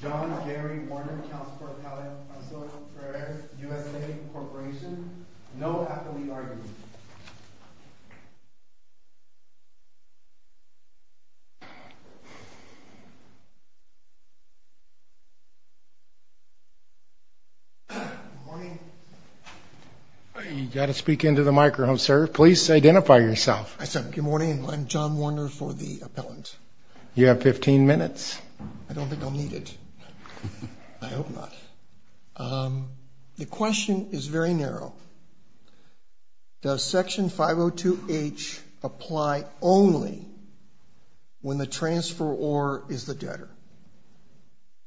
John Gary Warner, Council for Appellant, Unsealed Prayers, USA Corporation. No Appellee Arguments. Good morning. You've got to speak into the microphone, sir. Please identify yourself. I said, good morning. I'm John Warner for the Appellant. You have 15 minutes. I don't think I'll need it. I hope not. The question is very narrow. Does Section 502H apply only when the transferor is the debtor?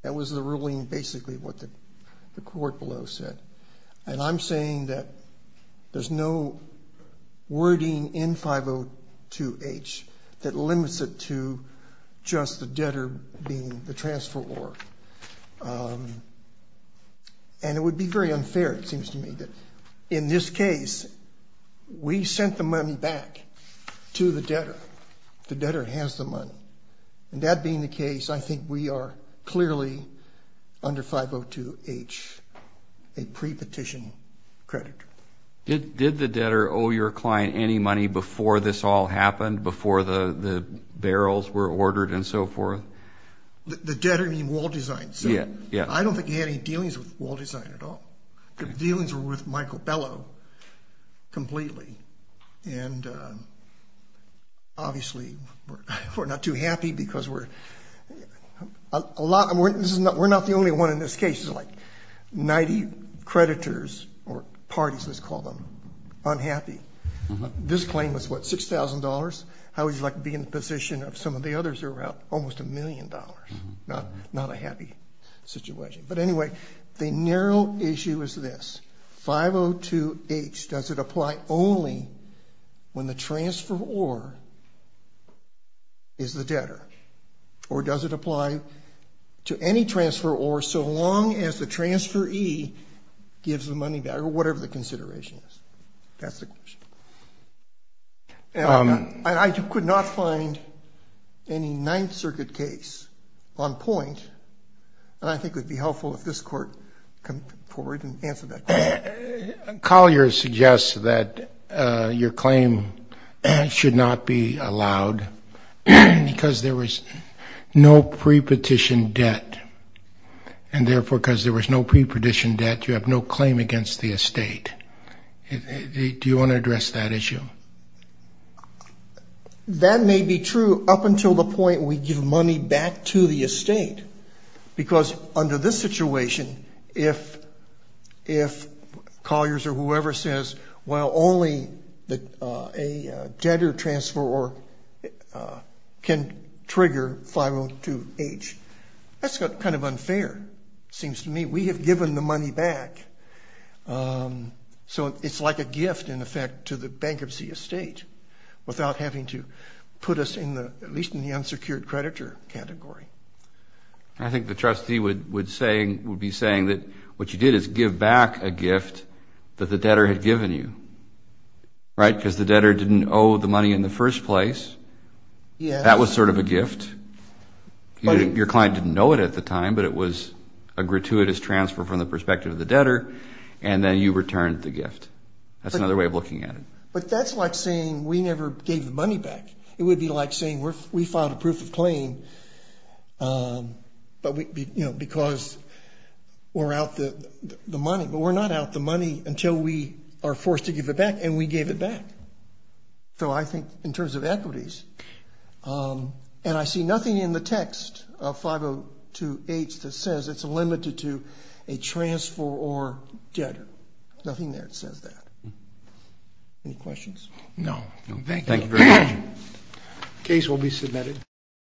That was the ruling, basically, what the court below said. And I'm saying that there's no wording in 502H that limits it to just the debtor being the transferor. And it would be very unfair, it seems to me, that in this case, we sent the money back to the debtor. The debtor has the money. And that being the case, I think we are clearly, under 502H, a pre-petition creditor. Did the debtor owe your client any money before this all happened, before the barrels were ordered and so forth? The debtor in WALLDESIGN, sir? Yeah. I don't think he had any dealings with WALLDESIGN at all. The dealings were with Michael Bellow completely. And obviously, we're not too happy because we're not the only one in this case. There's like 90 creditors or parties, let's call them, unhappy. This claim was, what, $6,000? I would like to be in the position of some of the others who are out almost a million dollars. Not a happy situation. But anyway, the narrow issue is this. 502H, does it apply only when the transferor is the debtor? Or does it apply to any transferor so long as the transferee gives the money back, or whatever the consideration is? That's the question. And I could not find any Ninth Circuit case on point. And I think it would be helpful if this Court could come forward and answer that question. Collier suggests that your claim should not be allowed because there was no pre-petition debt. And therefore, because there was no pre-petition debt, you have no claim against the estate. Do you want to address that issue? That may be true up until the point we give money back to the estate. Because under this situation, if Colliers or whoever says, well, only a debtor transferor can trigger 502H, that's kind of unfair, seems to me. We have given the money back. So it's like a gift, in effect, to the bankruptcy estate, without having to put us at least in the unsecured creditor category. I think the trustee would be saying that what you did is give back a gift that the debtor had given you, right? Because the debtor didn't owe the money in the first place. That was sort of a gift. Your client didn't know it at the time, but it was a gratuitous transfer from the perspective of the debtor, and then you returned the gift. That's another way of looking at it. But that's like saying we never gave the money back. It would be like saying we filed a proof of claim because we're out the money. But we're not out the money until we are forced to give it back, and we gave it back. So I think in terms of equities, and I see nothing in the text of 502H that says it's limited to a transferor debtor. Nothing there that says that. Any questions? No. Thank you. The case will be submitted.